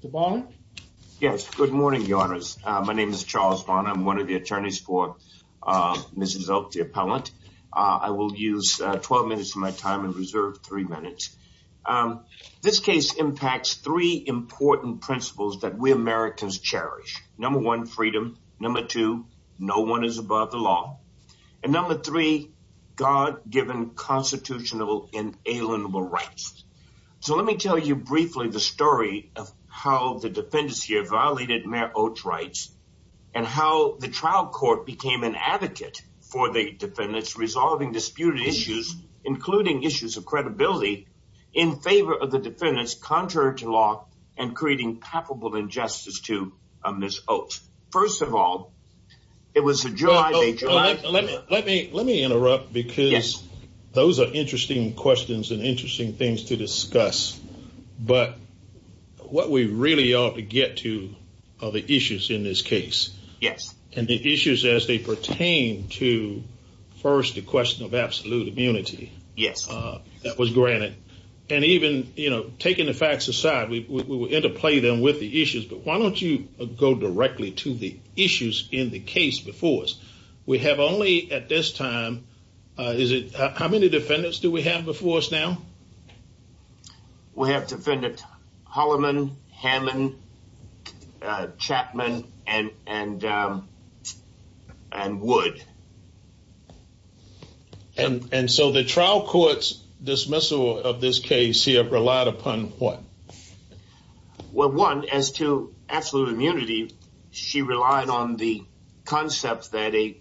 Mr. Barnett? Yes, good morning, Your Honors. My name is Charles Barnett. I'm one of the attorneys for Mrs. Oak, the appellant. I will use 12 minutes of my time and reserve three minutes. This case impacts three important principles that we Americans cherish. Number one, freedom. Number two, no one is above the law. And number three, God-given, constitutional, inalienable rights. So let me tell you briefly the story of how the defendants here violated Mayor Oates' rights and how the trial court became an advocate for the defendants, resolving disputed issues, including issues of credibility, in favor of the defendants contrary to law and creating palpable injustice to Mrs. Oates. First of all, it was a July date. Let me interrupt because those are interesting questions and interesting things to discuss. But what we really ought to get to are the issues in this case. Yes. And the issues as they pertain to, first, the question of absolute immunity. Yes. That was granted. And even, you know, taking the facts aside, we will interplay them with the issues, but why don't you go directly to the issues in the case before us? We have only at this time, is it, how many defendants do we have before us now? We have defendant Holloman, Hammond, Chapman, and Wood. And so the trial court's dismissal of this case here relied upon what? Well, one, as to absolute immunity, she relied on the concept that a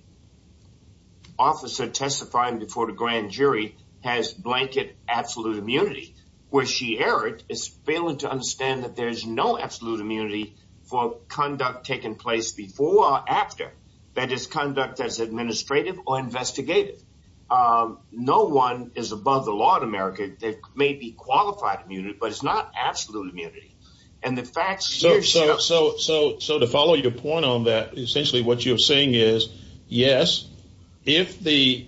officer testifying before the grand jury has blanket absolute immunity. Where she erred is failing to understand that there is no absolute immunity for conduct taking place before or after. That is conduct that is administrative or investigative. No one is above the law in America. That may be qualified immunity, but it's not absolute immunity. And the facts here show. So to follow your point on that, essentially what you're saying is, yes, if the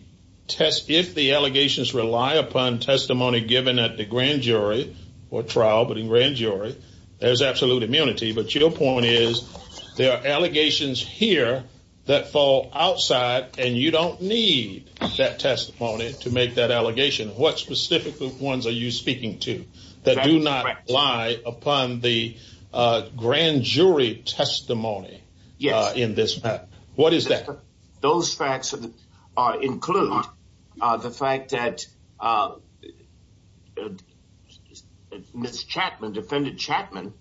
allegations rely upon testimony given at the grand jury or trial, but in grand jury, there's absolute immunity. But your point is there are allegations here that fall outside, and you don't need that testimony to make that allegation. What specific ones are you speaking to that do not lie upon the grand jury testimony? Yes. In this. What is that? Those facts include the fact that Miss Chapman, defendant Chapman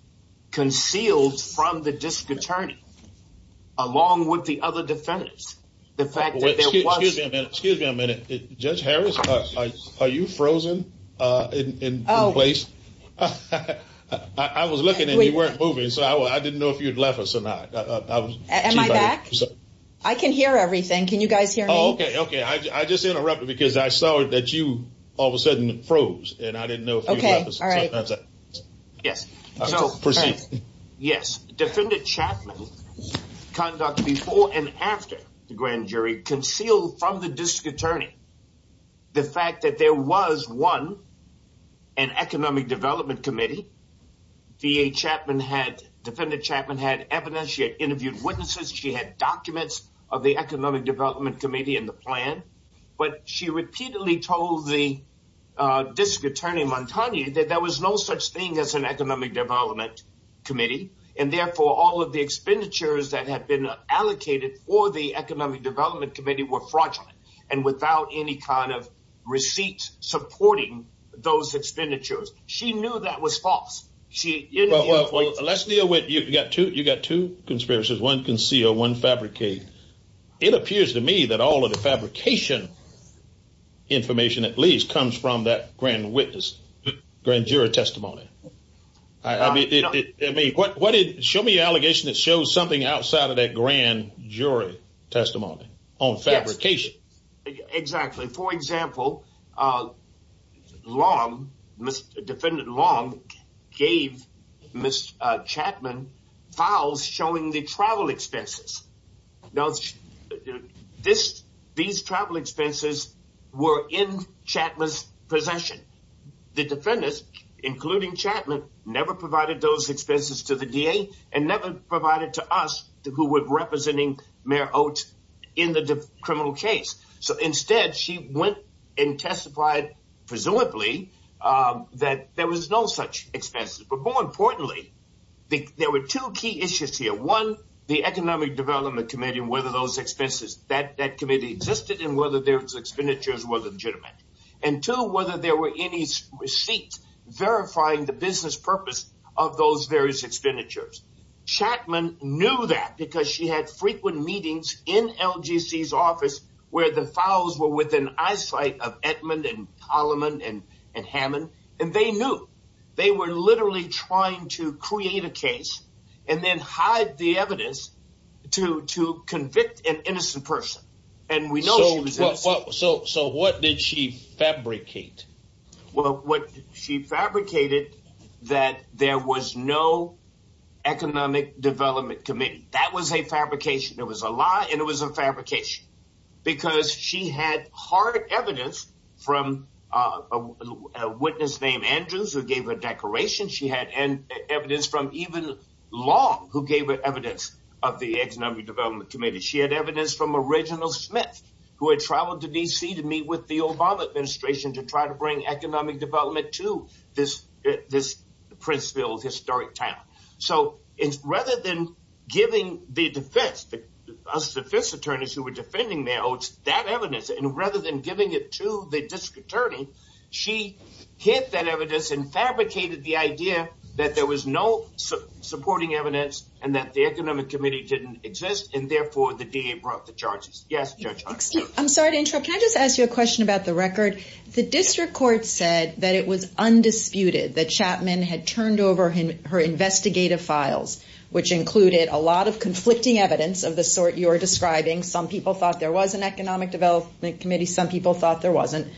concealed from the district attorney along with the other defendants. Excuse me a minute. Judge Harris, are you frozen in place? I was looking and you weren't moving, so I didn't know if you'd left us or not. Am I back? I can hear everything. Can you guys hear me? Okay. Okay. I just interrupted because I saw that you all of a sudden froze and I didn't know. Okay. All right. Yes. Yes. Defendant Chapman conduct before and after the grand jury concealed from the district attorney. The fact that there was one and economic development committee, the Chapman had defendant Chapman had evidence. She had interviewed witnesses. She had documents of the economic development committee and the plan. But she repeatedly told the district attorney Montaigne that there was no such thing as an economic development committee. And therefore, all of the expenditures that had been allocated for the economic development committee were fraudulent. And without any kind of receipts supporting those expenditures, she knew that was false. She let's deal with you. You got to you got to conspiracies. One conceal one fabricate. It appears to me that all of the fabrication information at least comes from that grand witness grand jury testimony. I mean, what what did show me an allegation that shows something outside of that grand jury testimony on fabrication? Exactly. For example, Long, Mr. Defendant Long gave Miss Chapman files showing the travel expenses. Now, this these travel expenses were in Chapman's possession. The defendants, including Chapman, never provided those expenses to the D.A. and never provided to us who were representing Mayor Oates in the criminal case. So instead, she went and testified, presumably that there was no such expense. But more importantly, there were two key issues here. One, the economic development committee and whether those expenses that that committee existed and whether their expenditures were legitimate. And two, whether there were any receipts verifying the business purpose of those various expenditures. Chapman knew that because she had frequent meetings in L.G.C.'s office where the files were within eyesight of Edmund and Solomon and and Hammond. And they knew they were literally trying to create a case and then hide the evidence to to convict an innocent person. And we know so. So what did she fabricate? Well, what she fabricated that there was no economic development committee. That was a fabrication. It was a lie. And it was a fabrication because she had hard evidence from a witness named Andrews who gave a declaration. She had evidence from even Long who gave evidence of the economic development committee. She had evidence from original Smith who had traveled to D.C. to meet with the Obama administration to try to bring economic development to this this Princeville historic town. So it's rather than giving the defense the defense attorneys who were defending that evidence. And rather than giving it to the district attorney, she kept that evidence and fabricated the idea that there was no supporting evidence and that the economic committee didn't exist. And therefore the DA brought the charges. Yes. I'm sorry to interrupt. Can I just ask you a question about the record? The district court said that it was undisputed that Chapman had turned over her investigative files, which included a lot of conflicting evidence of the sort you're describing. Some people thought there was an economic development committee. Some people thought there wasn't.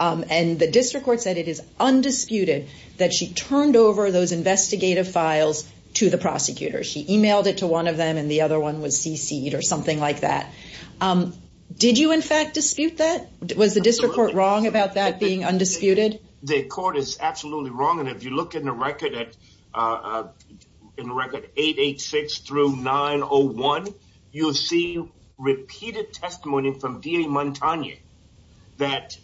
And the district court said it is undisputed that she turned over those investigative files to the prosecutors. She emailed it to one of them and the other one was cc'd or something like that. Did you, in fact, dispute that? Was the district court wrong about that being undisputed? The court is absolutely wrong. And if you look in the record at in record eight, eight, six through nine or one, you'll see repeated testimony from D.A. Montagne that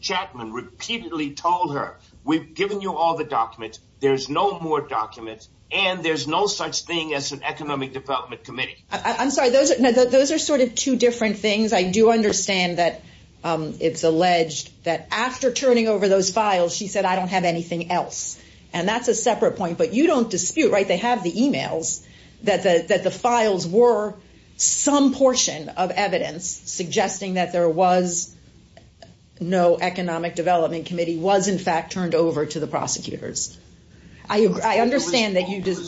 Chapman repeatedly told her, we've given you all the documents. There's no more documents and there's no such thing as an economic development committee. I'm sorry. Those are those are sort of two different things. I do understand that it's alleged that after turning over those files, she said, I don't have anything else. And that's a separate point. But you don't dispute. Right. that the that the files were some portion of evidence suggesting that there was no economic development committee was, in fact, turned over to the prosecutors. I understand that you did.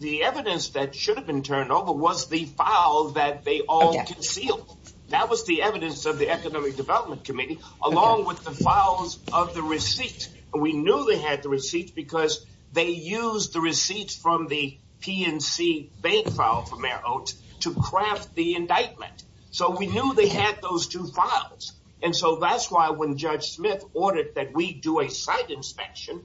The evidence that should have been turned over was the file that they all concealed. That was the evidence of the Economic Development Committee, along with the files of the receipt. And we knew they had the receipts because they used the receipts from the PNC bank file for Mayor Oates to craft the indictment. So we knew they had those two files. And so that's why when Judge Smith ordered that we do a site inspection,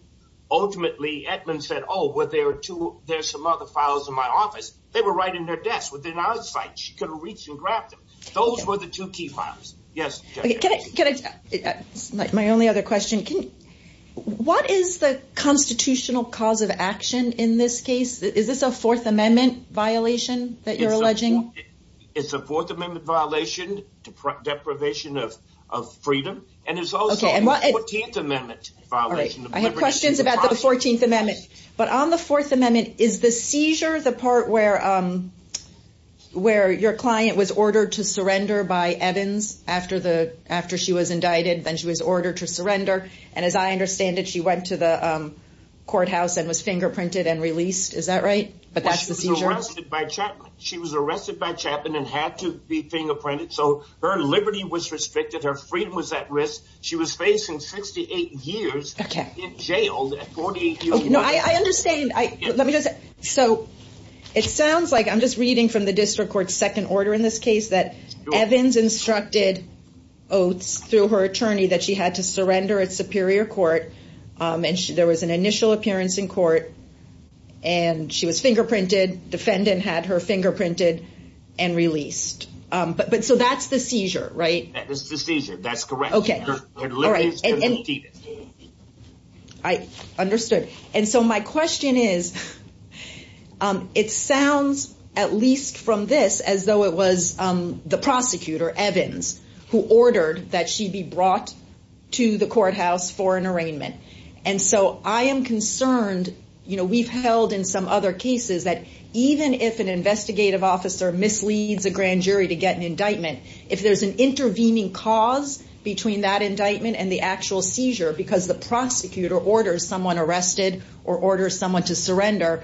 ultimately, Edmond said, oh, well, there are two. There's some other files in my office. They were right in their desk within our site. She could reach and grab them. Those were the two key files. Yes. Can I get my only other question? What is the constitutional cause of action in this case? Is this a Fourth Amendment violation that you're alleging? It's a Fourth Amendment violation to deprivation of freedom. And it's also a 14th Amendment violation. I have questions about the 14th Amendment. But on the Fourth Amendment, is the seizure the part where where your client was ordered to surrender by Evans after the after she was indicted? Then she was ordered to surrender. And as I understand it, she went to the courthouse and was fingerprinted and released. Is that right? But that's the seizure. She was arrested by Chapman and had to be fingerprinted. So her liberty was restricted. Her freedom was at risk. She was facing 68 years in jail. No, I understand. So it sounds like I'm just reading from the district court's second order in this case that Evans instructed oaths through her attorney that she had to surrender at Superior Court. And there was an initial appearance in court and she was fingerprinted. Defendant had her fingerprinted and released. But but so that's the seizure. Right. That was the seizure. That's correct. OK. All right. I understood. And so my question is, it sounds at least from this as though it was the prosecutor, Evans, who ordered that she be brought to the courthouse for an arraignment. And so I am concerned, you know, we've held in some other cases that even if an investigative officer misleads a grand jury to get an indictment, if there's an intervening cause between that indictment and the actual seizure, because the prosecutor orders someone arrested or orders someone to surrender,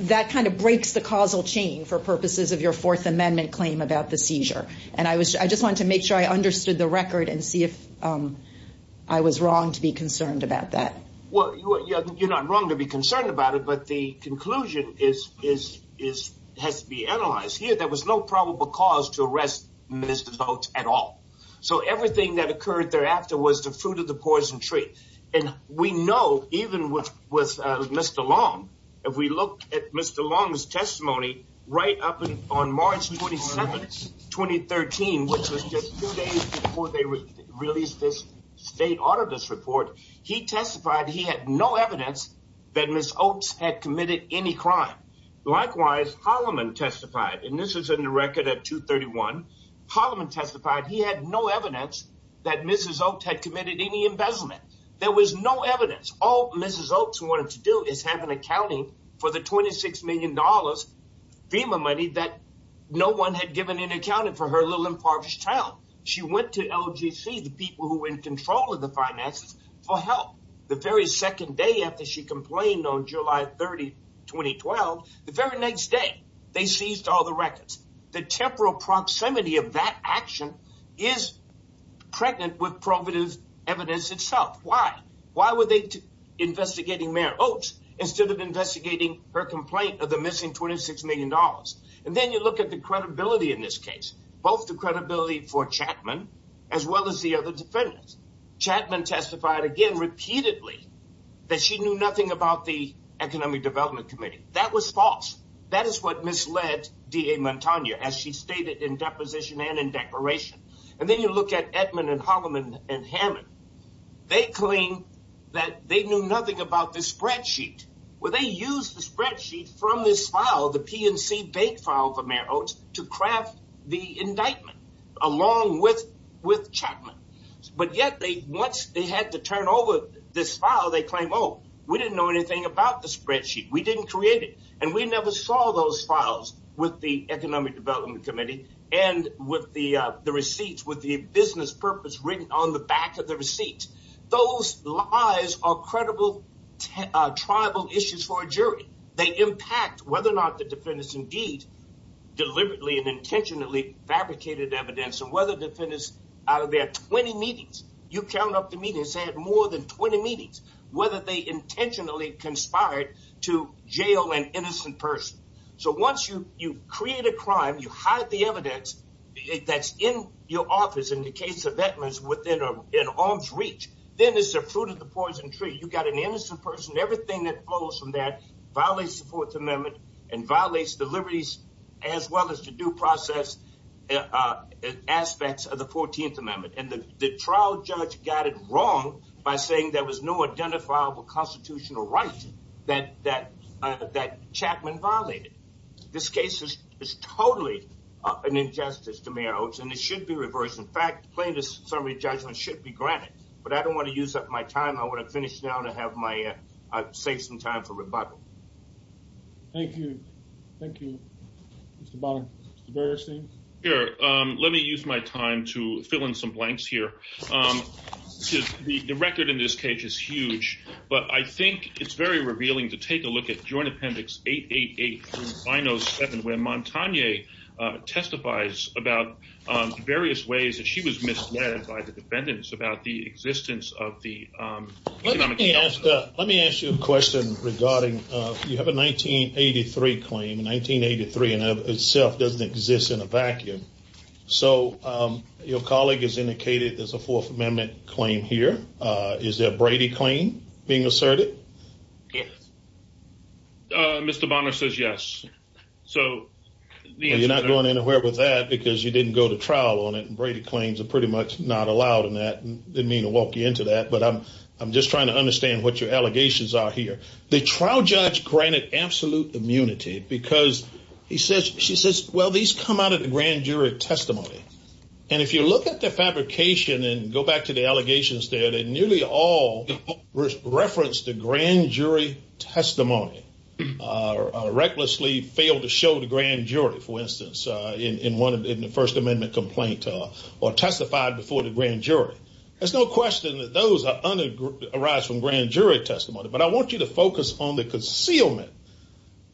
that kind of breaks the causal chain for purposes of your Fourth Amendment claim about the seizure. And I was I just want to make sure I understood the record and see if I was wrong to be concerned about that. Well, you're not wrong to be concerned about it. But the conclusion is, is, is has to be analyzed here. There was no probable cause to arrest Mr. Boat at all. So everything that occurred thereafter was the fruit of the poison tree. And we know even with with Mr. Long, if we look at Mr. Long's testimony right up on March 27th, 2013, which was just two days before they released this state auditor's report, he testified he had no evidence that Ms. Oates had committed any crime. Likewise, Holloman testified, and this is in the record at 231. Holloman testified he had no evidence that Mrs. Oates had committed any embezzlement. There was no evidence. All Mrs. Oates wanted to do is have an accounting for the 26 million dollars FEMA money that no one had given in accounting for her little impoverished child. She went to LGC, the people who were in control of the finances, for help. The very second day after she complained on July 30, 2012, the very next day, they seized all the records. The temporal proximity of that action is pregnant with probative evidence itself. Why? Why were they investigating Mayor Oates instead of investigating her complaint of the missing 26 million dollars? And then you look at the credibility in this case, both the credibility for Chapman as well as the other defendants. Chapman testified again repeatedly that she knew nothing about the Economic Development Committee. That was false. That is what misled D.A. Mantagna, as she stated in deposition and in declaration. And then you look at Edmond and Holloman and Hammond. They claim that they knew nothing about this spreadsheet. Well, they used the spreadsheet from this file, the PNC bank file for Mayor Oates, to craft the indictment along with Chapman. But yet, once they had to turn over this file, they claim, oh, we didn't know anything about the spreadsheet. We didn't create it. And we never saw those files with the Economic Development Committee and with the receipts, with the business purpose written on the back of the receipt. Those lies are credible tribal issues for a jury. They impact whether or not the defendants indeed deliberately and intentionally fabricated evidence and whether defendants out of their 20 meetings, you count up the meetings, they had more than 20 meetings, whether they intentionally conspired to jail an innocent person. So once you create a crime, you hide the evidence that's in your office, in the case of Edmonds, within an arm's reach, then it's the fruit of the poison tree. You've got an innocent person. Everything that flows from that violates the Fourth Amendment and violates the liberties as well as the due process aspects of the 14th Amendment. And the trial judge got it wrong by saying there was no identifiable constitutional right that Chapman violated. This case is totally an injustice to me, and it should be reversed. In fact, plaintiff's summary judgment should be granted. But I don't want to use up my time. I want to finish now to have my say some time for rebuttal. Thank you. Thank you, Mr. Bonner. Mr. Bergerstein? Here, let me use my time to fill in some blanks here. The record in this case is huge, but I think it's very revealing to take a look at Joint Appendix 888 through 907, where Montagne testifies about various ways that she was misled by the defendants about the existence of the. Let me ask you a question regarding you have a 1983 claim in 1983 and itself doesn't exist in a vacuum. So your colleague has indicated there's a Fourth Amendment claim here. Is that Brady claim being asserted? Mr. Bonner says yes. So you're not going anywhere with that because you didn't go to trial on it. Brady claims are pretty much not allowed in that. I didn't mean to walk you into that, but I'm just trying to understand what your allegations are here. The trial judge granted absolute immunity because he says she says, well, these come out of the grand jury testimony. And if you look at the fabrication and go back to the allegations there, they nearly all reference the grand jury testimony. Recklessly failed to show the grand jury, for instance, in the First Amendment complaint or testified before the grand jury. There's no question that those arise from grand jury testimony. But I want you to focus on the concealment,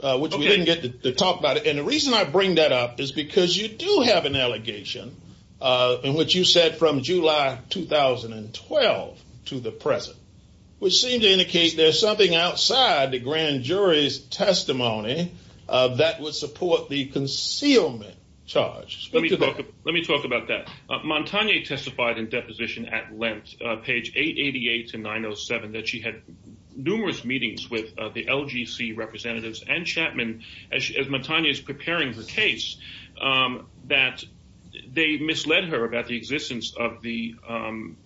which we didn't get to talk about. And the reason I bring that up is because you do have an allegation in which you said from July 2012 to the present, which seemed to indicate there's something outside the grand jury's testimony that would support the concealment charge. Let me talk about that. Montagne testified in deposition at length, page 888 to 907, that she had numerous meetings with the LGC representatives and Chapman as Montagne is preparing her case, that they misled her about the existence of the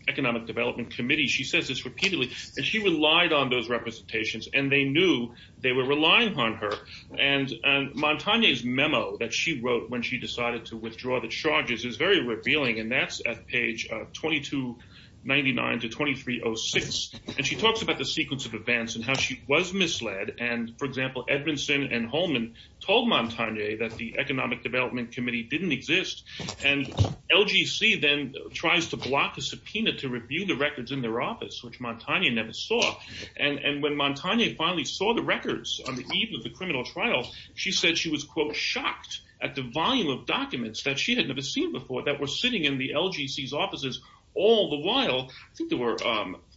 Economic Development Committee. She says this repeatedly that she relied on those representations and they knew they were relying on her. And Montagne's memo that she wrote when she decided to withdraw the charges is very revealing. And that's at page 2299 to 2306. And she talks about the sequence of events and how she was misled. And, for example, Edmondson and Holman told Montagne that the Economic Development Committee didn't exist. And LGC then tries to block the subpoena to review the records in their office, which Montagne never saw. And when Montagne finally saw the records on the eve of the criminal trial, she said she was, quote, shocked at the volume of documents that she had never seen before that were sitting in the LGC's offices all the while. I think there were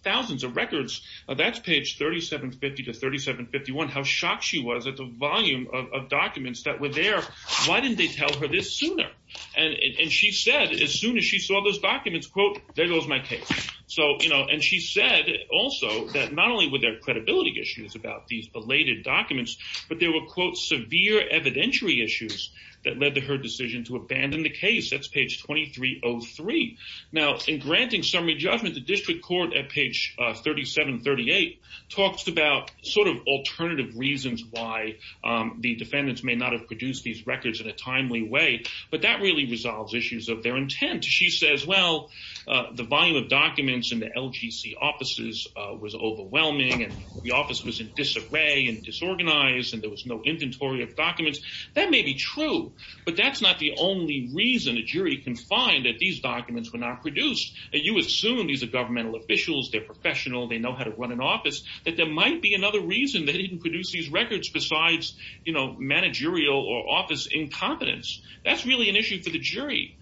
thousands of records. That's page 3750 to 3751, how shocked she was at the volume of documents that were there. Why didn't they tell her this sooner? And she said as soon as she saw those documents, quote, there goes my case. And she said also that not only were there credibility issues about these belated documents, but there were, quote, severe evidentiary issues that led to her decision to abandon the case. That's page 2303. Now, in granting summary judgment, the district court at page 3738 talks about sort of alternative reasons why the defendants may not have produced these records in a timely way. But that really resolves issues of their intent. She says, well, the volume of documents in the LGC offices was overwhelming and the office was in disarray and disorganized and there was no inventory of documents. That may be true, but that's not the only reason a jury can find that these documents were not produced. And you assume these are governmental officials, they're professional, they know how to run an office, that there might be another reason they didn't produce these records besides, you know, managerial or office incompetence. That's really an issue for the jury.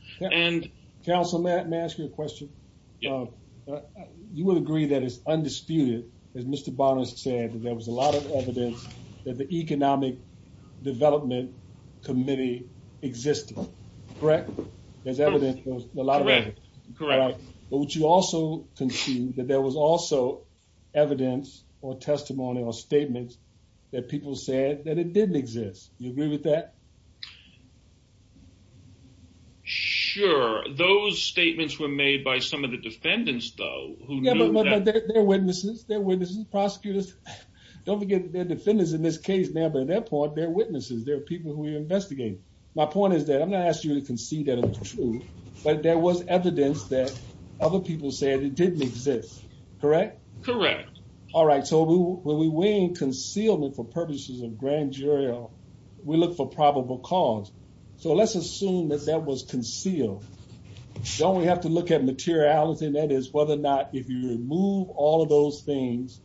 Councilman, may I ask you a question? You would agree that it's undisputed, as Mr. Bonner said, that there was a lot of evidence that the Economic Development Committee existed, correct? There's evidence, a lot of evidence. Correct. But would you also conclude that there was also evidence or testimony or statements that people said that it didn't exist? You agree with that? Sure. Those statements were made by some of the defendants, though. Yeah, but they're witnesses. They're witnesses, prosecutors. Don't forget, they're defendants in this case now, but at that point, they're witnesses. They're people who we investigate. My point is that I'm not asking you to concede that it was true, but there was evidence that other people said it didn't exist, correct? Correct. All right. So when we weigh in concealment for purposes of grand jury law, we look for probable cause. So let's assume that that was concealed. Don't we have to look at materiality, and that is whether or not if you remove all of those things,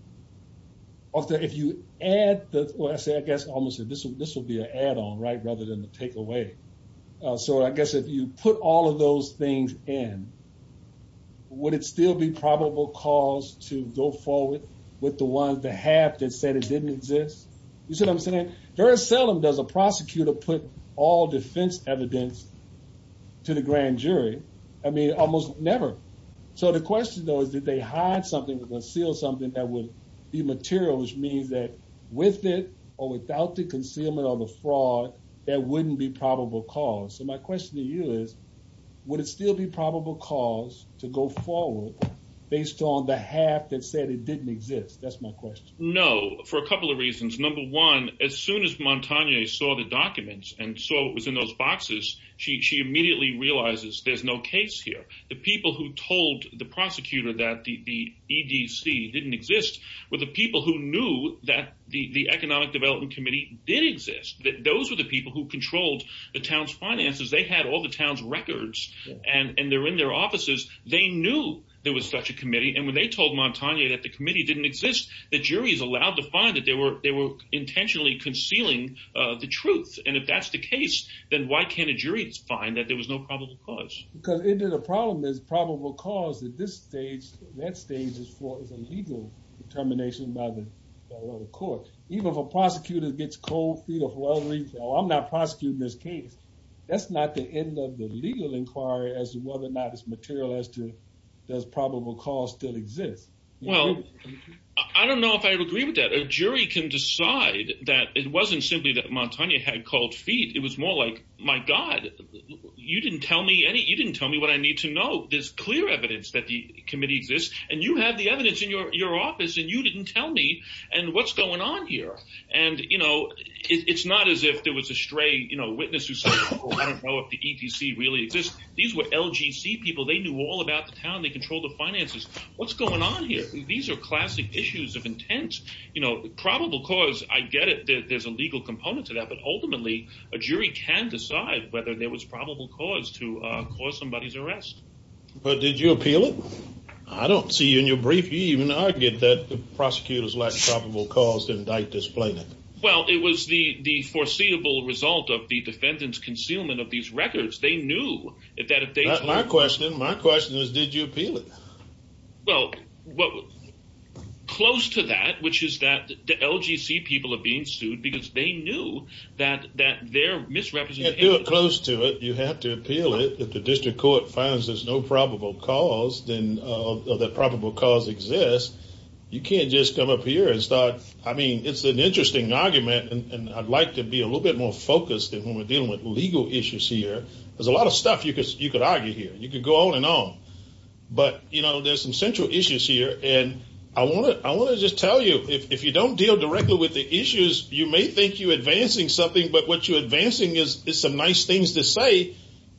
or if you add the – well, I guess I almost said this would be an add-on, right, rather than a takeaway. So I guess if you put all of those things in, would it still be probable cause to go forward with the one, the half that said it didn't exist? You see what I'm saying? Very seldom does a prosecutor put all defense evidence to the grand jury. I mean, almost never. So the question, though, is did they hide something or conceal something that would be material, which means that with it or without the concealment or the fraud, there wouldn't be probable cause. So my question to you is would it still be probable cause to go forward based on the half that said it didn't exist? That's my question. No, for a couple of reasons. Number one, as soon as Montagne saw the documents and saw what was in those boxes, she immediately realizes there's no case here. The people who told the prosecutor that the EDC didn't exist were the people who knew that the Economic Development Committee did exist. Those were the people who controlled the town's finances. They had all the town's records, and they're in their offices. They knew there was such a committee, and when they told Montagne that the committee didn't exist, the jury is allowed to find that they were intentionally concealing the truth. And if that's the case, then why can't a jury find that there was no probable cause? Because the problem is probable cause at this stage, that stage is for a legal determination by the court. Even if a prosecutor gets cold feet or for whatever reason, oh, I'm not prosecuting this case, that's not the end of the legal inquiry as to whether or not it's material as to does probable cause still exist. Well, I don't know if I would agree with that. A jury can decide that it wasn't simply that Montagne had cold feet. It was more like, my God, you didn't tell me what I need to know. There's clear evidence that the committee exists, and you have the evidence in your office, and you didn't tell me, and what's going on here? And it's not as if there was a stray witness who said, oh, I don't know if the EDC really exists. These were LGC people. They knew all about the town. They controlled the finances. What's going on here? These are classic issues of intent. Probable cause, I get it. There's a legal component to that. But ultimately, a jury can decide whether there was probable cause to cause somebody's arrest. But did you appeal it? I don't see you in your brief. You even argued that the prosecutors lacked probable cause to indict this plaintiff. Well, it was the foreseeable result of the defendant's concealment of these records. They knew that if they did. My question is, did you appeal it? Well, close to that, which is that the LGC people are being sued because they knew that their misrepresentation. You can't do it close to it. You have to appeal it. If the district court finds there's no probable cause, then that probable cause exists. You can't just come up here and start. I mean, it's an interesting argument, and I'd like to be a little bit more focused when we're dealing with legal issues here. There's a lot of stuff you could argue here. You could go on and on. But, you know, there's some central issues here, and I want to just tell you, if you don't deal directly with the issues, you may think you're advancing something, but what you're advancing is some nice things to say,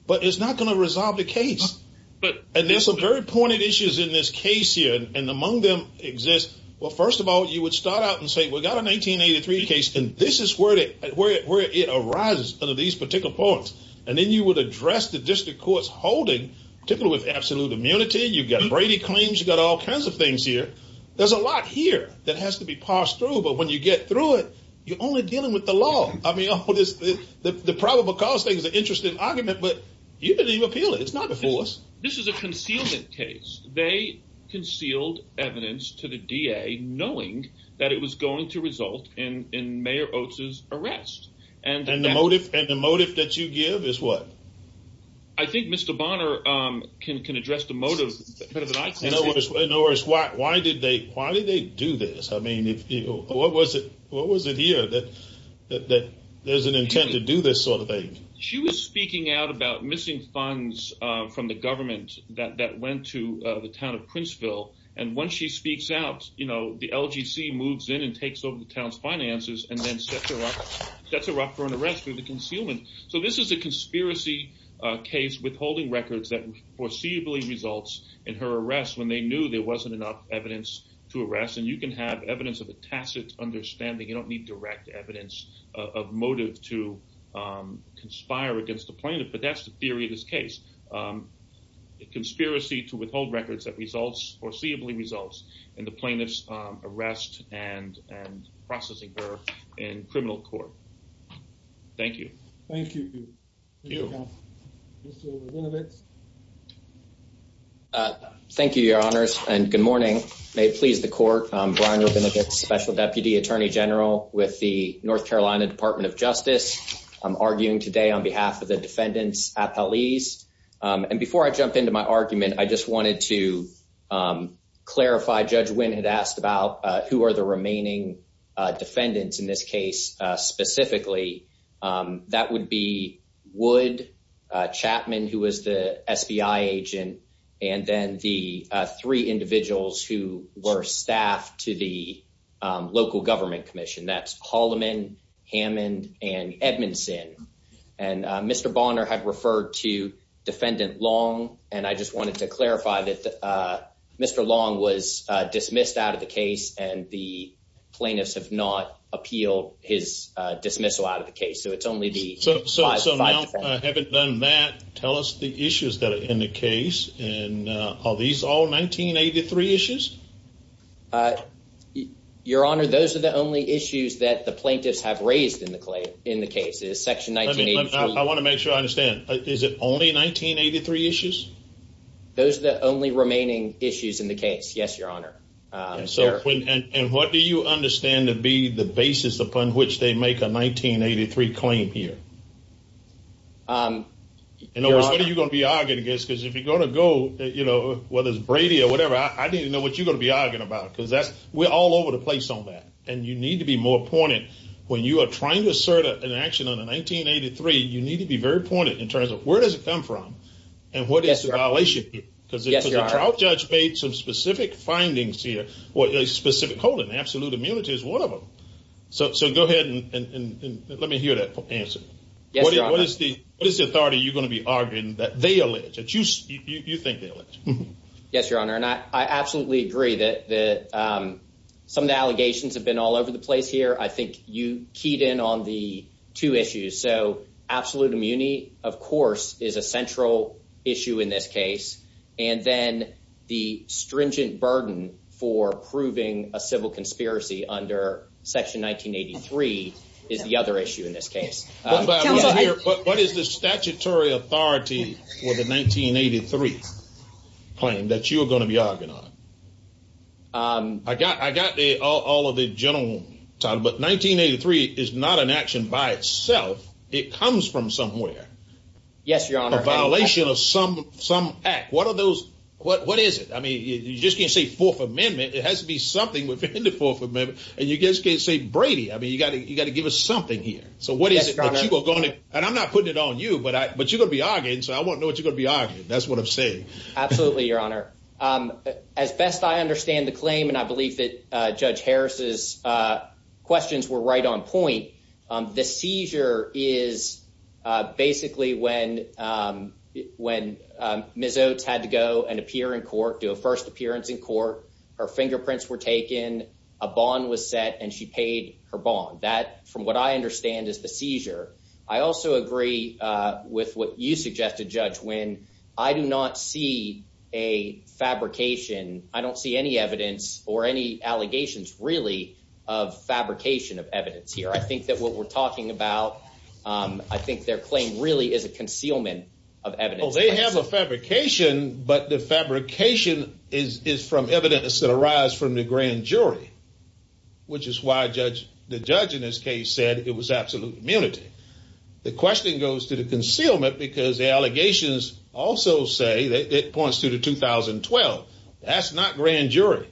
but it's not going to resolve the case. And there's some very pointed issues in this case here, and among them exists. Well, first of all, you would start out and say, we've got a 1983 case, and this is where it arises, under these particular points. And then you would address the district court's holding, particularly with absolute immunity. You've got Brady claims. You've got all kinds of things here. There's a lot here that has to be parsed through, but when you get through it, you're only dealing with the law. I mean, the probable cause thing is an interesting argument, but you didn't even appeal it. It's not before us. This is a concealment case. They concealed evidence to the DA knowing that it was going to result in Mayor Oates' arrest. And the motive that you give is what? I think Mr. Bonner can address the motive. In other words, why did they do this? I mean, what was it here that there's an intent to do this sort of thing? She was speaking out about missing funds from the government that went to the town of Princeville, and once she speaks out, the LGC moves in and takes over the town's finances and then sets her up for an arrest through the concealment. So this is a conspiracy case withholding records that foreseeably results in her arrest when they knew there wasn't enough evidence to arrest. And you can have evidence of a tacit understanding. You don't need direct evidence of motive to conspire against the plaintiff, but that's the theory of this case. It's a conspiracy to withhold records that foreseeably results in the plaintiff's arrest and processing her in criminal court. Thank you. Thank you. Thank you. Mr. Rabinovitz? Thank you, Your Honors, and good morning. May it please the Court, I'm Brian Rabinovitz, Special Deputy Attorney General with the North Carolina Department of Justice. I'm arguing today on behalf of the defendants at police. And before I jump into my argument, I just wanted to clarify, Judge Wynn had asked about who are the remaining defendants in this case specifically. That would be Wood, Chapman, who was the SBI agent, and then the three individuals who were staffed to the local government commission. That's Holloman, Hammond, and Edmondson. And Mr. Bonner had referred to Defendant Long, and I just wanted to clarify that Mr. Long was dismissed out of the case, and the plaintiffs have not appealed his dismissal out of the case. So it's only the five defendants. So now, having done that, tell us the issues that are in the case. And are these all 1983 issues? Your Honor, those are the only issues that the plaintiffs have raised in the case. I want to make sure I understand. Is it only 1983 issues? Those are the only remaining issues in the case, yes, Your Honor. And what do you understand to be the basis upon which they make a 1983 claim here? In other words, what are you going to be arguing against? Because if you're going to go, whether it's Brady or whatever, I need to know what you're going to be arguing about, because we're all over the place on that, and you need to be more pointed. When you are trying to assert an action on a 1983, you need to be very pointed in terms of where does it come from, and what is the violation here? Yes, Your Honor. Because the trial judge made some specific findings here. Specific code and absolute immunity is one of them. So go ahead and let me hear that answer. Yes, Your Honor. What is the authority you're going to be arguing that they allege, that you think they allege? Yes, Your Honor, and I absolutely agree that some of the allegations have been all over the place here. I think you keyed in on the two issues. So absolute immunity, of course, is a central issue in this case. And then the stringent burden for proving a civil conspiracy under Section 1983 is the other issue in this case. What is the statutory authority for the 1983 claim that you are going to be arguing on? I got all of the gentlemen talking, but 1983 is not an action by itself. It comes from somewhere. Yes, Your Honor. A violation of some act. What are those? What is it? I mean, you just can't say Fourth Amendment. It has to be something within the Fourth Amendment. And you just can't say Brady. I mean, you got to give us something here. So what is it that you are going to – and I'm not putting it on you, but you're going to be arguing, so I want to know what you're going to be arguing. That's what I'm saying. Absolutely, Your Honor. As best I understand the claim, and I believe that Judge Harris's questions were right on point, the seizure is basically when Ms. Oates had to go and appear in court, do a first appearance in court, her fingerprints were taken, a bond was set, and she paid her bond. That, from what I understand, is the seizure. I also agree with what you suggested, Judge, when I do not see a fabrication. I don't see any evidence or any allegations, really, of fabrication of evidence here. I think that what we're talking about, I think their claim really is a concealment of evidence. Well, they have a fabrication, but the fabrication is from evidence that arises from the grand jury, which is why the judge in this case said it was absolute immunity. The question goes to the concealment because the allegations also say – it points to the 2012. That's not grand jury.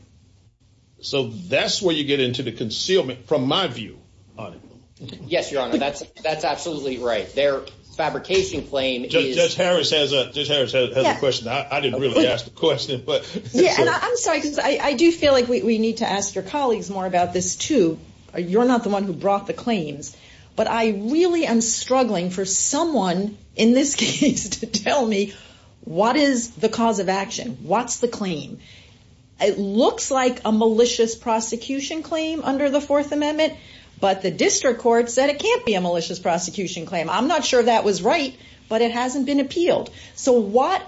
So that's where you get into the concealment, from my view. Yes, Your Honor, that's absolutely right. Their fabrication claim is – Judge Harris has a question. I didn't really ask the question. I'm sorry because I do feel like we need to ask your colleagues more about this, too. You're not the one who brought the claims, but I really am struggling for someone in this case to tell me what is the cause of action, what's the claim. It looks like a malicious prosecution claim under the Fourth Amendment, but the district court said it can't be a malicious prosecution claim. I'm not sure that was right, but it hasn't been appealed. So what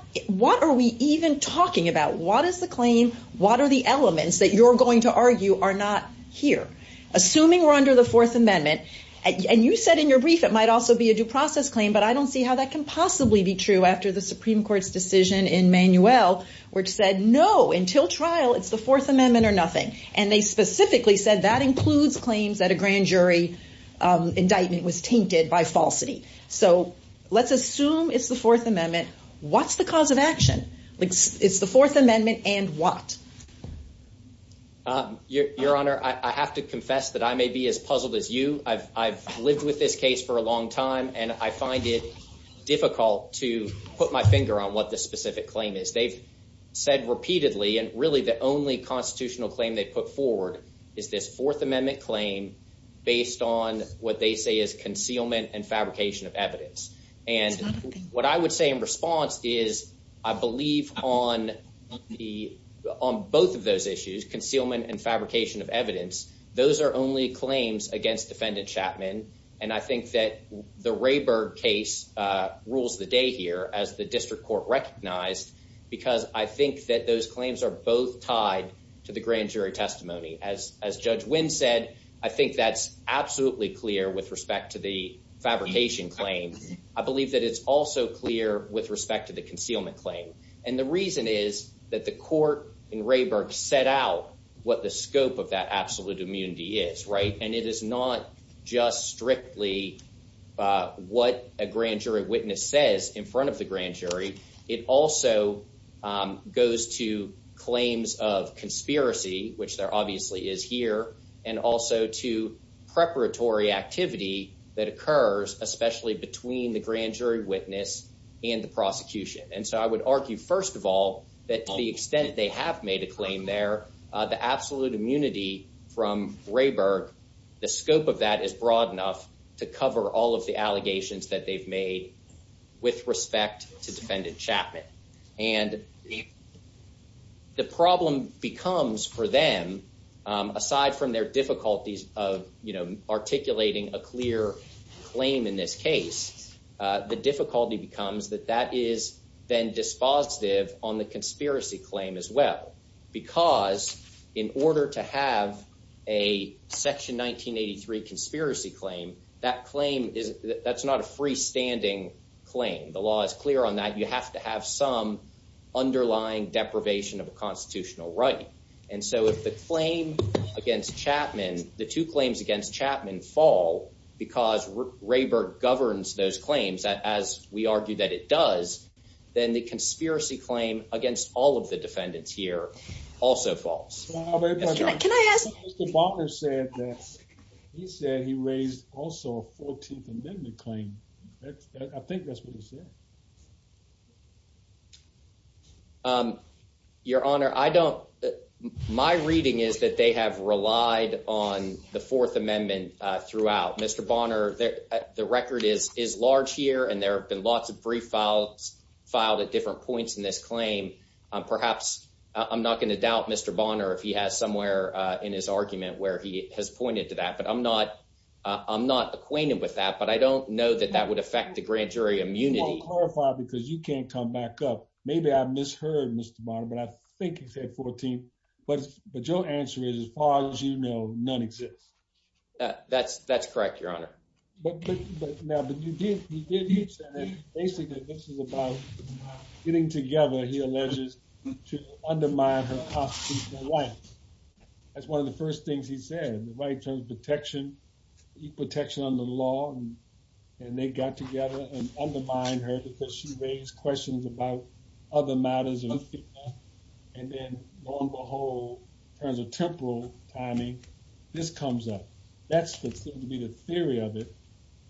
are we even talking about? What is the claim? What are the elements that you're going to argue are not here? Assuming we're under the Fourth Amendment – and you said in your brief it might also be a due process claim, but I don't see how that can possibly be true after the Supreme Court's decision in Manuel, which said no, until trial, it's the Fourth Amendment or nothing. And they specifically said that includes claims that a grand jury indictment was tainted by falsity. So let's assume it's the Fourth Amendment. What's the cause of action? It's the Fourth Amendment and what? Your Honor, I have to confess that I may be as puzzled as you. I've lived with this case for a long time, and I find it difficult to put my finger on what the specific claim is. They've said repeatedly, and really the only constitutional claim they've put forward is this Fourth Amendment claim based on what they say is concealment and fabrication of evidence. And what I would say in response is I believe on both of those issues, concealment and fabrication of evidence, those are only claims against Defendant Chapman. And I think that the Rayberg case rules the day here as the district court recognized, because I think that those claims are both tied to the grand jury testimony. As Judge Wynn said, I think that's absolutely clear with respect to the fabrication claim. I believe that it's also clear with respect to the concealment claim. And the reason is that the court in Rayberg set out what the scope of that absolute immunity is. And it is not just strictly what a grand jury witness says in front of the grand jury. It also goes to claims of conspiracy, which there obviously is here, and also to preparatory activity that occurs, especially between the grand jury witness and the prosecution. And so I would argue, first of all, that to the extent they have made a claim there, the absolute immunity from Rayberg, the scope of that is broad enough to cover all of the allegations that they've made with respect to Defendant Chapman. And the problem becomes for them, aside from their difficulties of, you know, articulating a clear claim in this case, the difficulty becomes that that is then dispositive on the conspiracy claim as well, because in order to have a Section 1983 conspiracy claim, that claim is that's not a freestanding claim. The law is clear on that. You have to have some underlying deprivation of constitutional right. And so if the claim against Chapman, the two claims against Chapman fall because Rayberg governs those claims, as we argue that it does, then the conspiracy claim against all of the defendants here also falls. Can I ask, Mr. Butler said that he said he raised also a 14th Amendment claim. I think that's what he said. Your Honor, I don't. My reading is that they have relied on the Fourth Amendment throughout Mr. Bonner. The record is is large here and there have been lots of brief files filed at different points in this claim. Perhaps I'm not going to doubt Mr. Bonner if he has somewhere in his argument where he has pointed to that. But I'm not I'm not acquainted with that. But I don't know that that would affect the grand jury immunity. Because you can't come back up. Maybe I've misheard Mr. Bonner, but I think he said 14. But but your answer is, as far as you know, none exists. That's that's correct. Your Honor. But now that you did, you did. Basically, this is about getting together. He alleges to undermine her life. That's one of the first things he said. The right to protection, protection on the law. And they got together and undermine her because she raised questions about other matters. And then, lo and behold, there's a temporal timing. This comes up. That's the theory of it.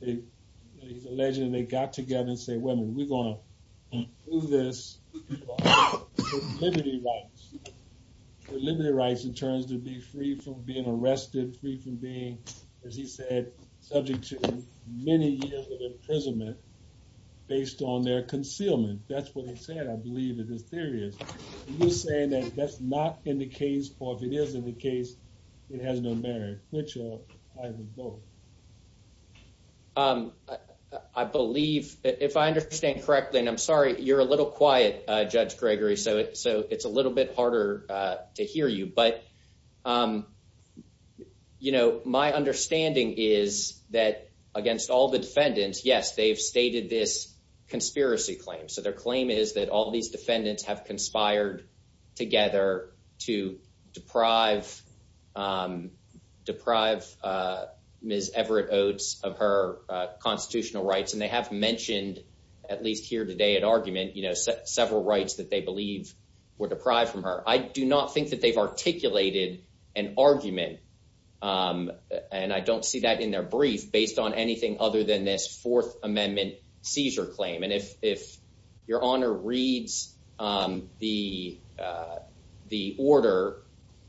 He's alleging they got together and say, well, we're going to do this. Liberty rights, liberty rights in terms to be free from being arrested, free from being, as he said, subject to many years of imprisonment based on their concealment. That's what he said. I believe it is serious. You're saying that that's not in the case. Or if it is in the case, it has no merit. I believe if I understand correctly, and I'm sorry, you're a little quiet, Judge Gregory. So so it's a little bit harder to hear you. But, you know, my understanding is that against all the defendants, yes, they've stated this conspiracy claim. So their claim is that all these defendants have conspired together to deprive, deprive Miss Everett Oates of her constitutional rights. And they have mentioned at least here today at argument, you know, several rights that they believe were deprived from her. I do not think that they've articulated an argument. And I don't see that in their brief based on anything other than this Fourth Amendment seizure claim. And if if your honor reads the the order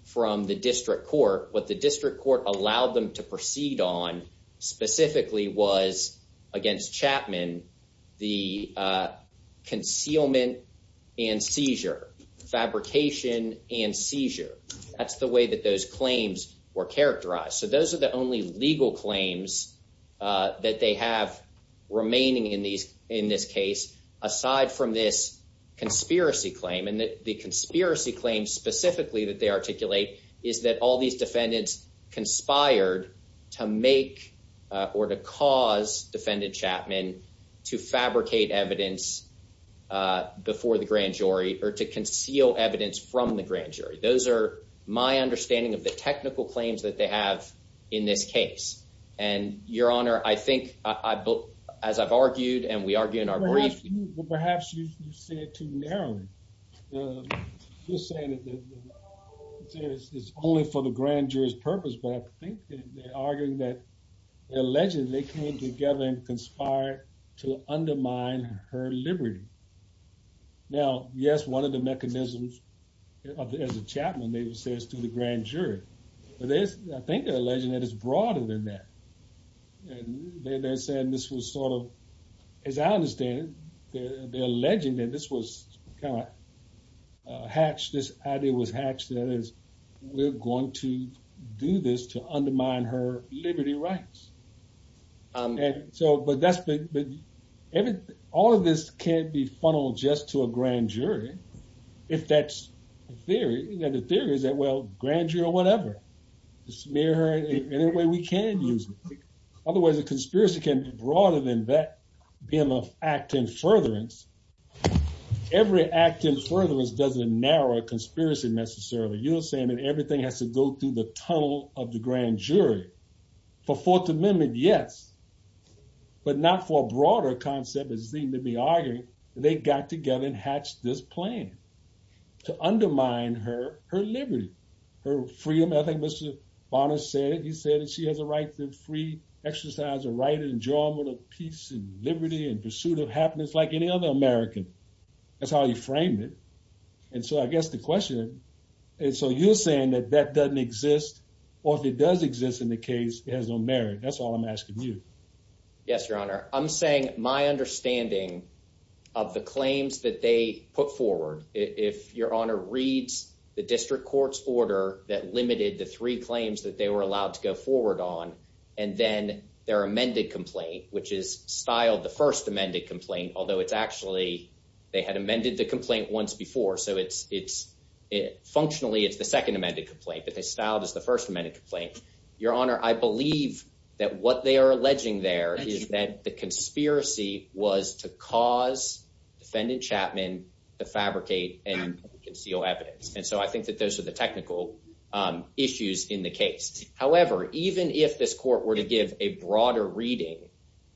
from the district court, what the district court allowed them to proceed on specifically was against Chapman, the concealment and seizure fabrication and seizure. That's the way that those claims were characterized. So those are the only legal claims that they have remaining in these in this case, aside from this conspiracy claim and the conspiracy claims specifically that they articulate is that all these defendants conspired to make or to cause defendant Chapman to fabricate evidence before the grand jury or to conceal evidence from the grand jury. Those are my understanding of the technical claims that they have in this case. And your honor, I think I as I've argued and we argue in our brief. Perhaps you say it too narrowly. Conspired to undermine her liberty. Now, yes, one of the mechanisms as a chapman, they say is to the grand jury. But there's I think a legend that is broader than that. And they're saying this was sort of, as I understand it, they're alleging that this was kind of hatched. This idea was hatched that is we're going to do this to undermine her liberty rights. So, but that's the. All of this can't be funneled just to a grand jury. If that's the theory that the theory is that well grand jury or whatever, smear her in any way we can use. Otherwise, the conspiracy can be broader than that. Being an act in furtherance. Every act in furtherance doesn't narrow conspiracy necessarily you're saying that everything has to go through the tunnel of the grand jury for fourth amendment. Yes. But not for broader concept is seem to be arguing, they got together and hatched this plan to undermine her, her liberty, her freedom. I think Mr. Bonner said he said that she has a right to free exercise a right and enjoyment of peace and liberty and pursuit of happiness like any other American. That's how you frame it. And so I guess the question is, so you're saying that that doesn't exist, or if it does exist in the case has no merit. That's all I'm asking you. Yes, your honor. I'm saying my understanding of the claims that they put forward. If your honor reads the district court's order that limited the three claims that they were allowed to go forward on. And then their amended complaint, which is styled the first amended complaint, although it's actually, they had amended the complaint once before so it's it's it functionally it's the second amended complaint that they styled as the first amendment complaint. Your honor, I believe that what they are alleging there is that the conspiracy was to cause defendant Chapman to fabricate and conceal evidence. And so I think that those are the technical issues in the case. However, even if this court were to give a broader reading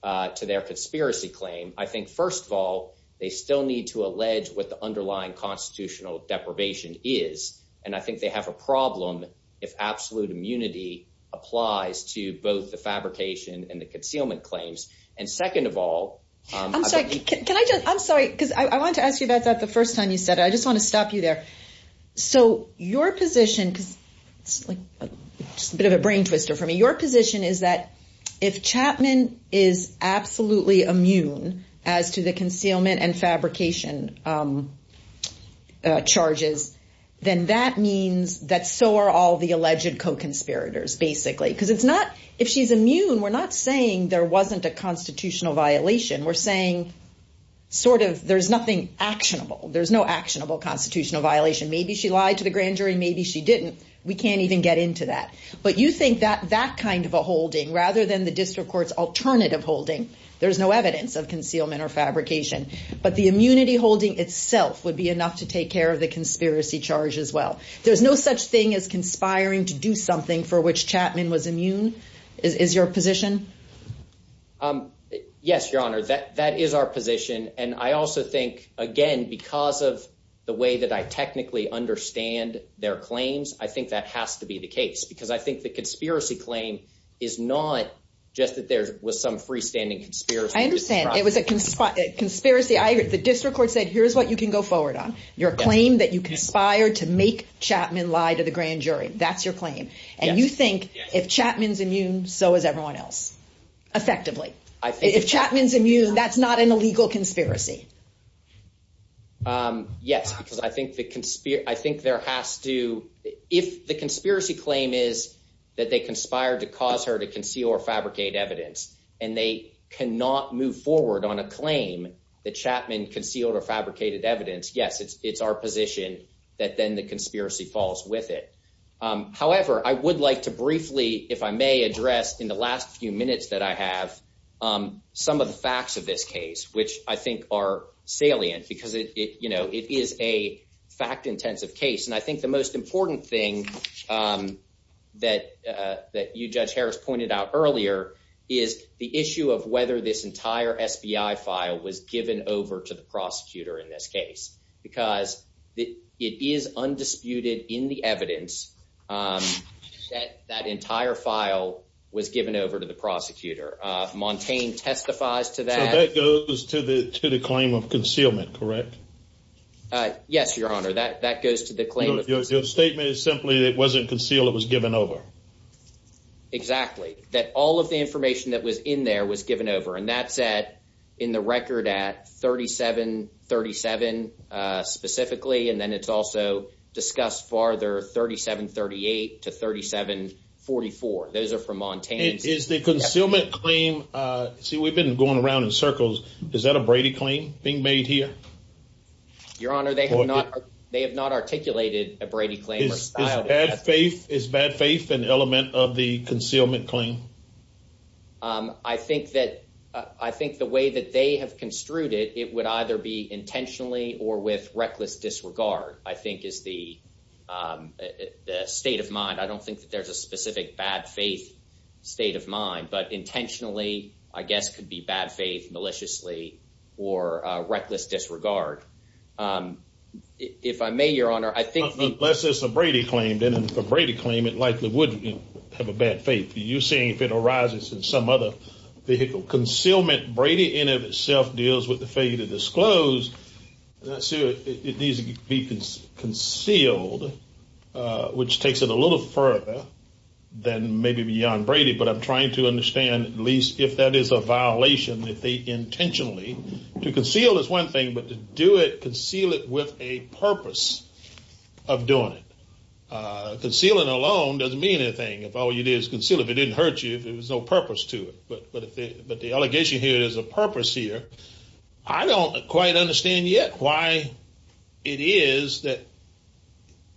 to their conspiracy claim, I think, first of all, they still need to allege what the underlying constitutional deprivation is. And I think they have a problem. If absolute immunity applies to both the fabrication and the concealment claims. And second of all, I'm sorry. Can I just I'm sorry, because I want to ask you about that the first time you said I just want to stop you there. So your position is a bit of a brain twister for me. Your position is that if Chapman is absolutely immune as to the concealment and fabrication charges, then that means that so are all the alleged co-conspirators, basically, because it's not if she's immune. We're not saying there wasn't a constitutional violation. We're saying sort of there's nothing actionable. There's no actionable constitutional violation. Maybe she lied to the grand jury. Maybe she didn't. We can't even get into that. But you think that that kind of a holding rather than the district court's alternative holding, there's no evidence of concealment or fabrication. But the immunity holding itself would be enough to take care of the conspiracy charge as well. There's no such thing as conspiring to do something for which Chapman was immune. Is your position. Yes, Your Honor, that that is our position. And I also think, again, because of the way that I technically understand their claims, I think that has to be the case, because I think the conspiracy claim is not just that there was some freestanding conspiracy. I understand it was a conspiracy. The district court said, here's what you can go forward on your claim that you conspired to make Chapman lie to the grand jury. That's your claim. And you think if Chapman's immune, so is everyone else. Effectively, if Chapman's immune, that's not an illegal conspiracy. Yes, because I think the I think there has to if the conspiracy claim is that they conspired to cause her to conceal or fabricate evidence and they cannot move forward on a claim that Chapman concealed or fabricated evidence. Yes, it's it's our position that then the conspiracy falls with it. However, I would like to briefly, if I may address in the last few minutes that I have some of the facts of this case, which I think are salient because it is a fact intensive case. And I think the most important thing that that you, Judge Harris, pointed out earlier is the issue of whether this entire FBI file was given over to the prosecutor in this case, because it is undisputed in the evidence that that entire file was given over to the prosecutor. Montaigne testifies to that. That goes to the to the claim of concealment, correct? Yes, Your Honor. That that goes to the claim. Your statement is simply that it wasn't concealed. It was given over. Exactly. That all of the information that was in there was given over. And that's that in the record at thirty seven, thirty seven specifically. And then it's also discussed farther. Thirty seven, thirty eight to thirty seven. Forty four. Those are from Montana. Is the concealment claim. See, we've been going around in circles. Is that a Brady claim being made here? Your Honor, they have not they have not articulated a Brady claim style faith is bad faith and element of the concealment claim. I think that I think the way that they have construed it, it would either be intentionally or with reckless disregard, I think, is the state of mind. I don't think that there's a specific bad faith state of mind, but intentionally, I guess, could be bad faith maliciously or reckless disregard. If I may, Your Honor, I think unless it's a Brady claim, then it's a Brady claim. It likely would have a bad faith. You're saying if it arises in some other vehicle concealment, Brady in of itself deals with the failure to disclose. So it needs to be concealed, which takes it a little further than maybe beyond Brady. But I'm trying to understand at least if that is a violation that they intentionally to conceal is one thing, but to do it, conceal it with a purpose of doing it. Concealing alone doesn't mean anything if all you did is conceal. If it didn't hurt you, if it was no purpose to it. But the allegation here is a purpose here. I don't quite understand yet why it is that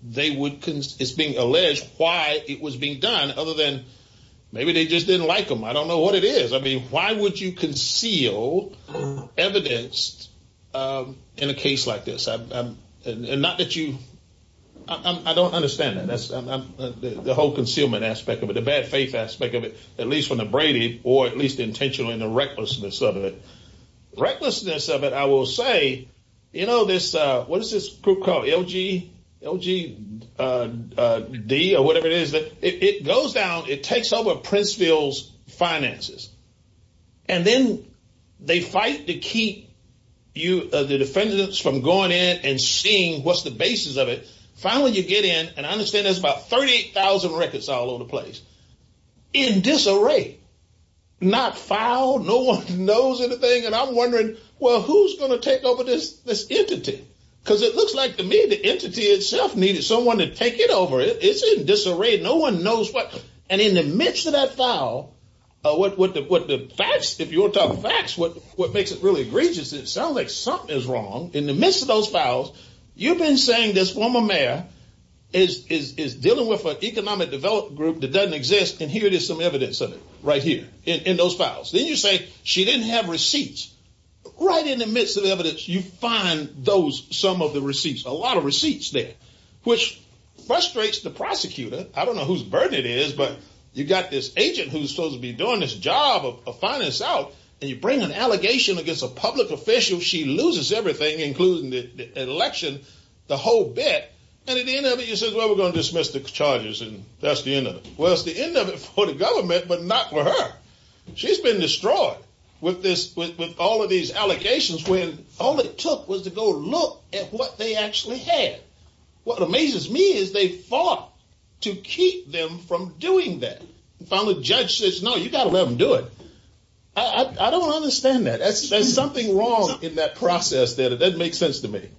they would, it's being alleged why it was being done other than maybe they just didn't like them. I don't know what it is. I mean, why would you conceal evidence in a case like this? Not that you, I don't understand that. That's the whole concealment aspect of it, the bad faith aspect of it, at least from the Brady or at least intentionally in the recklessness of it. Recklessness of it, I will say, you know, this what is this group called LG, LG, D or whatever it is that it goes down. It takes over Princeville's finances and then they fight to keep you, the defendants from going in and seeing what's the basis of it. Finally, you get in and I understand there's about 30,000 records all over the place in disarray, not found. No one knows anything. And I'm wondering, well, who's going to take over this entity? Because it looks like to me the entity itself needed someone to take it over. It's in disarray. No one knows what. And in the midst of that file, what the facts, if you want to talk facts, what makes it really egregious, it sounds like something is wrong in the midst of those files. You've been saying this former mayor is dealing with an economic development group that doesn't exist. And here it is, some evidence of it right here in those files. Then you say she didn't have receipts right in the midst of evidence. You find those some of the receipts, a lot of receipts there, which frustrates the prosecutor. I don't know whose bird it is, but you've got this agent who's supposed to be doing this job of finding this out. And you bring an allegation against a public official. She loses everything, including the election, the whole bit. And at the end of it, you said, well, we're going to dismiss the charges. And that's the end of it. Because the end of it for the government, but not for her. She's been destroyed with all of these allegations when all it took was to go look at what they actually had. What amazes me is they fought to keep them from doing that. Finally, the judge says, no, you've got to let them do it. I don't understand that. There's something wrong in that process there that doesn't make sense to me.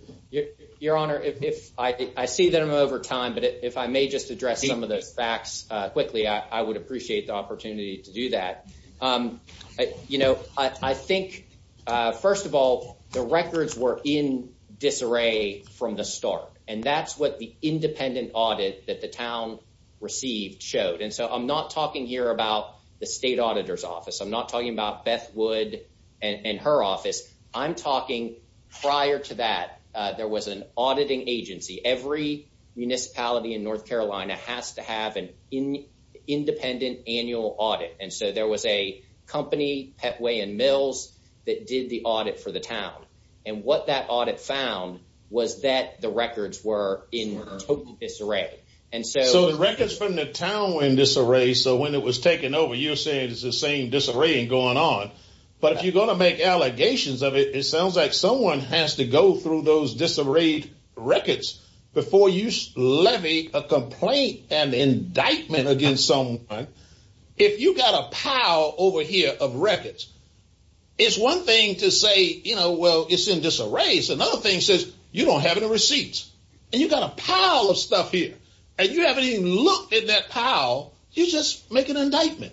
Your Honor, if I see that I'm over time, but if I may just address some of those facts quickly, I would appreciate the opportunity to do that. You know, I think, first of all, the records were in disarray from the start. And that's what the independent audit that the town received showed. And so I'm not talking here about the state auditor's office. I'm not talking about Beth Wood and her office. I'm talking prior to that, there was an auditing agency. Every municipality in North Carolina has to have an independent annual audit. And so there was a company, Petway and Mills, that did the audit for the town. And what that audit found was that the records were in total disarray. So the records from the town were in disarray. So when it was taken over, you're saying it's the same disarray going on. But if you're going to make allegations of it, it sounds like someone has to go through those disarrayed records before you levy a complaint and indictment against someone. If you've got a pile over here of records, it's one thing to say, you know, well, it's in disarray. It's another thing to say, you don't have any receipts. And you've got a pile of stuff here. And you haven't even looked at that pile. You just make an indictment.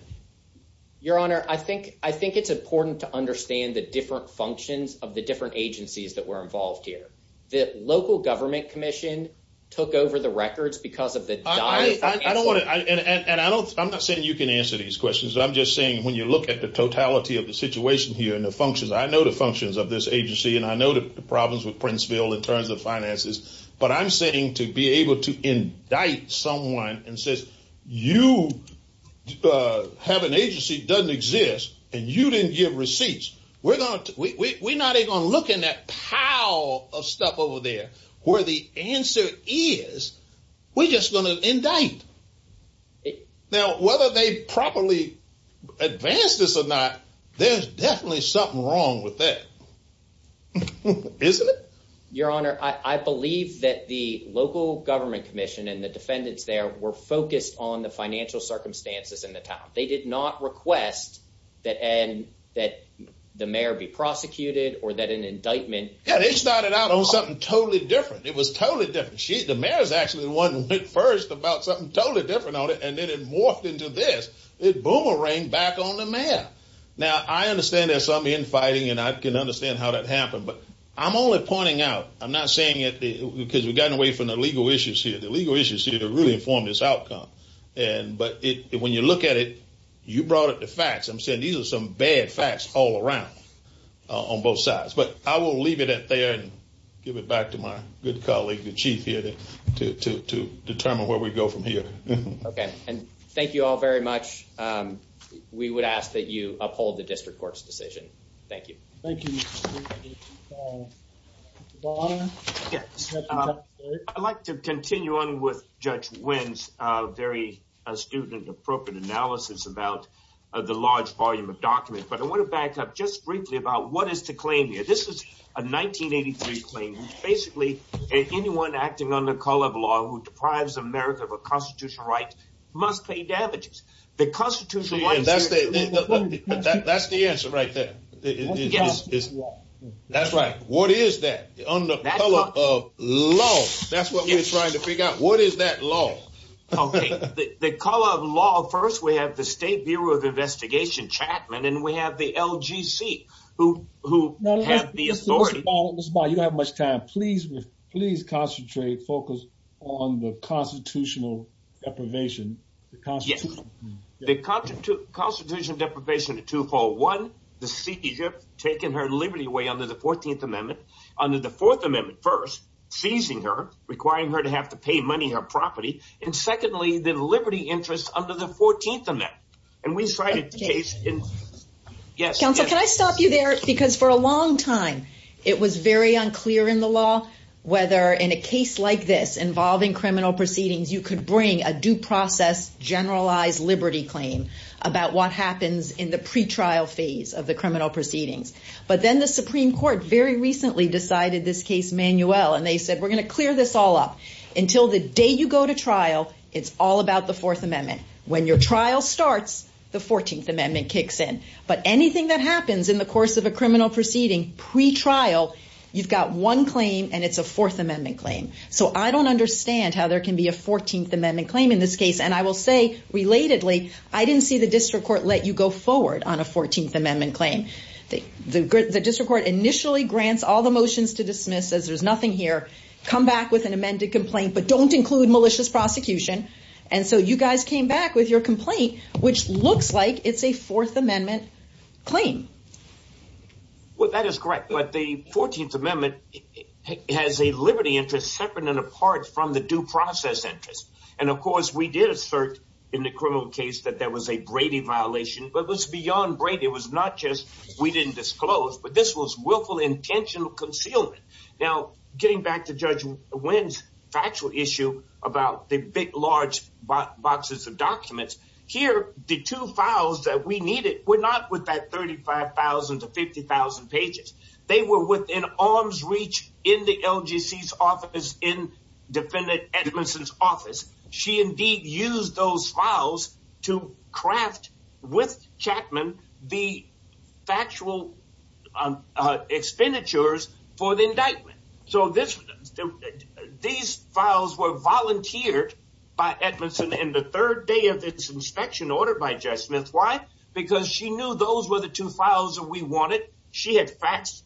Your Honor, I think it's important to understand the different functions of the different agencies that were involved here. The local government commission took over the records because of the disarray. And I'm not saying you can answer these questions. I'm just saying when you look at the totality of the situation here and the functions, I know the functions of this agency. And I know the problems with Princeville in terms of finances. But I'm saying to be able to indict someone and says you have an agency that doesn't exist and you didn't give receipts. We're not going to look in that pile of stuff over there where the answer is we're just going to indict. Now, whether they properly advance this or not, there's definitely something wrong with that, isn't it? Your Honor, I believe that the local government commission and the defendants there were focused on the financial circumstances in the town. They did not request that and that the mayor be prosecuted or that an indictment. Yeah, they started out on something totally different. It was totally different. The mayor is actually the one who went first about something totally different on it and then it morphed into this. It boomeranged back on the mayor. Now, I understand there's some infighting and I can understand how that happened, but I'm only pointing out. I'm not saying it because we've gotten away from the legal issues here. The legal issues here really inform this outcome. But when you look at it, you brought up the facts. I'm saying these are some bad facts all around on both sides. But I will leave it at there and give it back to my good colleague, the chief here, to determine where we go from here. OK. And thank you all very much. We would ask that you uphold the district court's decision. Thank you. Thank you. I'd like to continue on with Judge Wynn's very astute and appropriate analysis about the large volume of documents. But I want to back up just briefly about what is to claim here. This is a 1983 claim. Basically, anyone acting under color of law who deprives America of a constitutional right must pay damages. The Constitution. That's the answer right there. That's right. What is that? Under the color of law? That's what we're trying to figure out. What is that law? The color of law. Well, first, we have the State Bureau of Investigation, Chapman, and we have the LGC who have the authority. You don't have much time. Please, please concentrate, focus on the constitutional deprivation. Yes. The constitutional deprivation of twofold. One, the seizure, taking her liberty away under the 14th Amendment. Under the Fourth Amendment, first, seizing her, requiring her to have to pay money, her property. And secondly, the liberty interest under the 14th Amendment. And we cited the case. Yes. Counsel, can I stop you there? Because for a long time, it was very unclear in the law whether in a case like this involving criminal proceedings, you could bring a due process, generalized liberty claim about what happens in the pretrial phase of the criminal proceedings. But then the Supreme Court very recently decided this case manual. And they said, we're going to clear this all up until the day you go to trial. It's all about the Fourth Amendment. When your trial starts, the 14th Amendment kicks in. But anything that happens in the course of a criminal proceeding pretrial, you've got one claim and it's a Fourth Amendment claim. So I don't understand how there can be a 14th Amendment claim in this case. And I will say relatedly, I didn't see the district court let you go forward on a 14th Amendment claim. The district court initially grants all the motions to dismiss as there's nothing here. Come back with an amended complaint, but don't include malicious prosecution. And so you guys came back with your complaint, which looks like it's a Fourth Amendment claim. Well, that is correct. But the 14th Amendment has a liberty interest separate and apart from the due process interest. And of course, we did assert in the criminal case that there was a Brady violation, but was beyond Brady. It was not just we didn't disclose, but this was willful, intentional concealment. Now, getting back to Judge Wynn's factual issue about the big, large boxes of documents. Here, the two files that we needed were not with that 35,000 to 50,000 pages. They were within arm's reach in the LGC's office, in Defendant Edmondson's office. She indeed used those files to craft with Chapman the factual expenditures for the indictment. So this these files were volunteered by Edmondson in the third day of this inspection ordered by Jess Smith. Why? Because she knew those were the two files that we wanted. She had faxed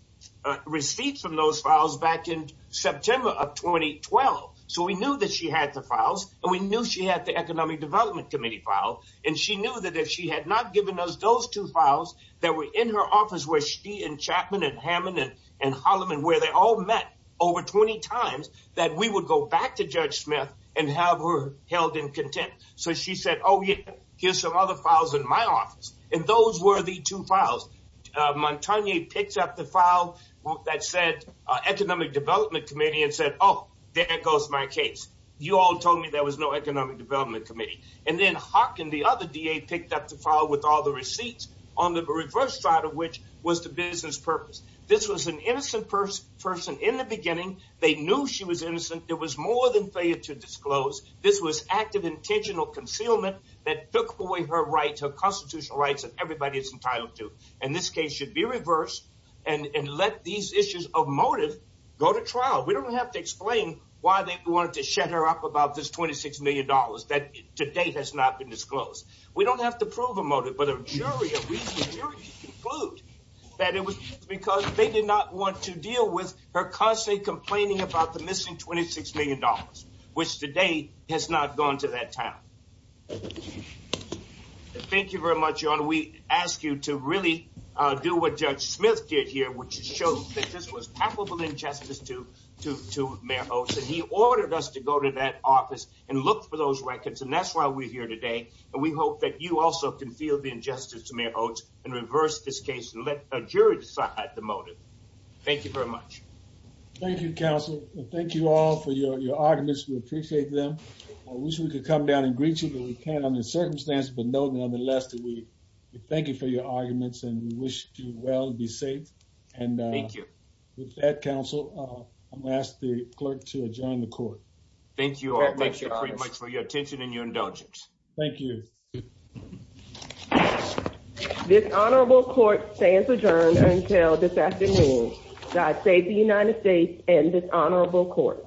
receipts from those files back in September of 2012. So we knew that she had the files and we knew she had the Economic Development Committee file. And she knew that if she had not given us those two files that were in her office, where she and Chapman and Hammond and Holliman, where they all met over 20 times, that we would go back to Judge Smith and have her held in contempt. So she said, oh, yeah, here's some other files in my office. And those were the two files. Montagne picked up the file that said Economic Development Committee and said, oh, there goes my case. You all told me there was no Economic Development Committee. And then Hock and the other DA picked up the file with all the receipts on the reverse side of which was the business purpose. This was an innocent person in the beginning. They knew she was innocent. It was more than fair to disclose. This was active intentional concealment that took away her rights, her constitutional rights that everybody is entitled to. And this case should be reversed and let these issues of motive go to trial. We don't have to explain why they wanted to shut her up about this $26 million that to date has not been disclosed. We don't have to prove a motive, but a jury, a jury can conclude that it was because they did not want to deal with her constantly complaining about the missing $26 million, which today has not gone to that town. Thank you very much. We ask you to really do what Judge Smith did here, which shows that this was palpable injustice to Mayor Oates. And he ordered us to go to that office and look for those records. And that's why we're here today. And we hope that you also can feel the injustice to Mayor Oates and reverse this case. Let a jury decide the motive. Thank you very much. Thank you, counsel. Thank you all for your arguments. We appreciate them. I wish we could come down and greet you, but we can't under the circumstances. But nonetheless, we thank you for your arguments and we wish you well and be safe. And thank you. With that, counsel, I'm going to ask the clerk to adjourn the court. Thank you all very much for your attention and your indulgence. Thank you. This honorable court stands adjourned until this afternoon. God save the United States and this honorable court.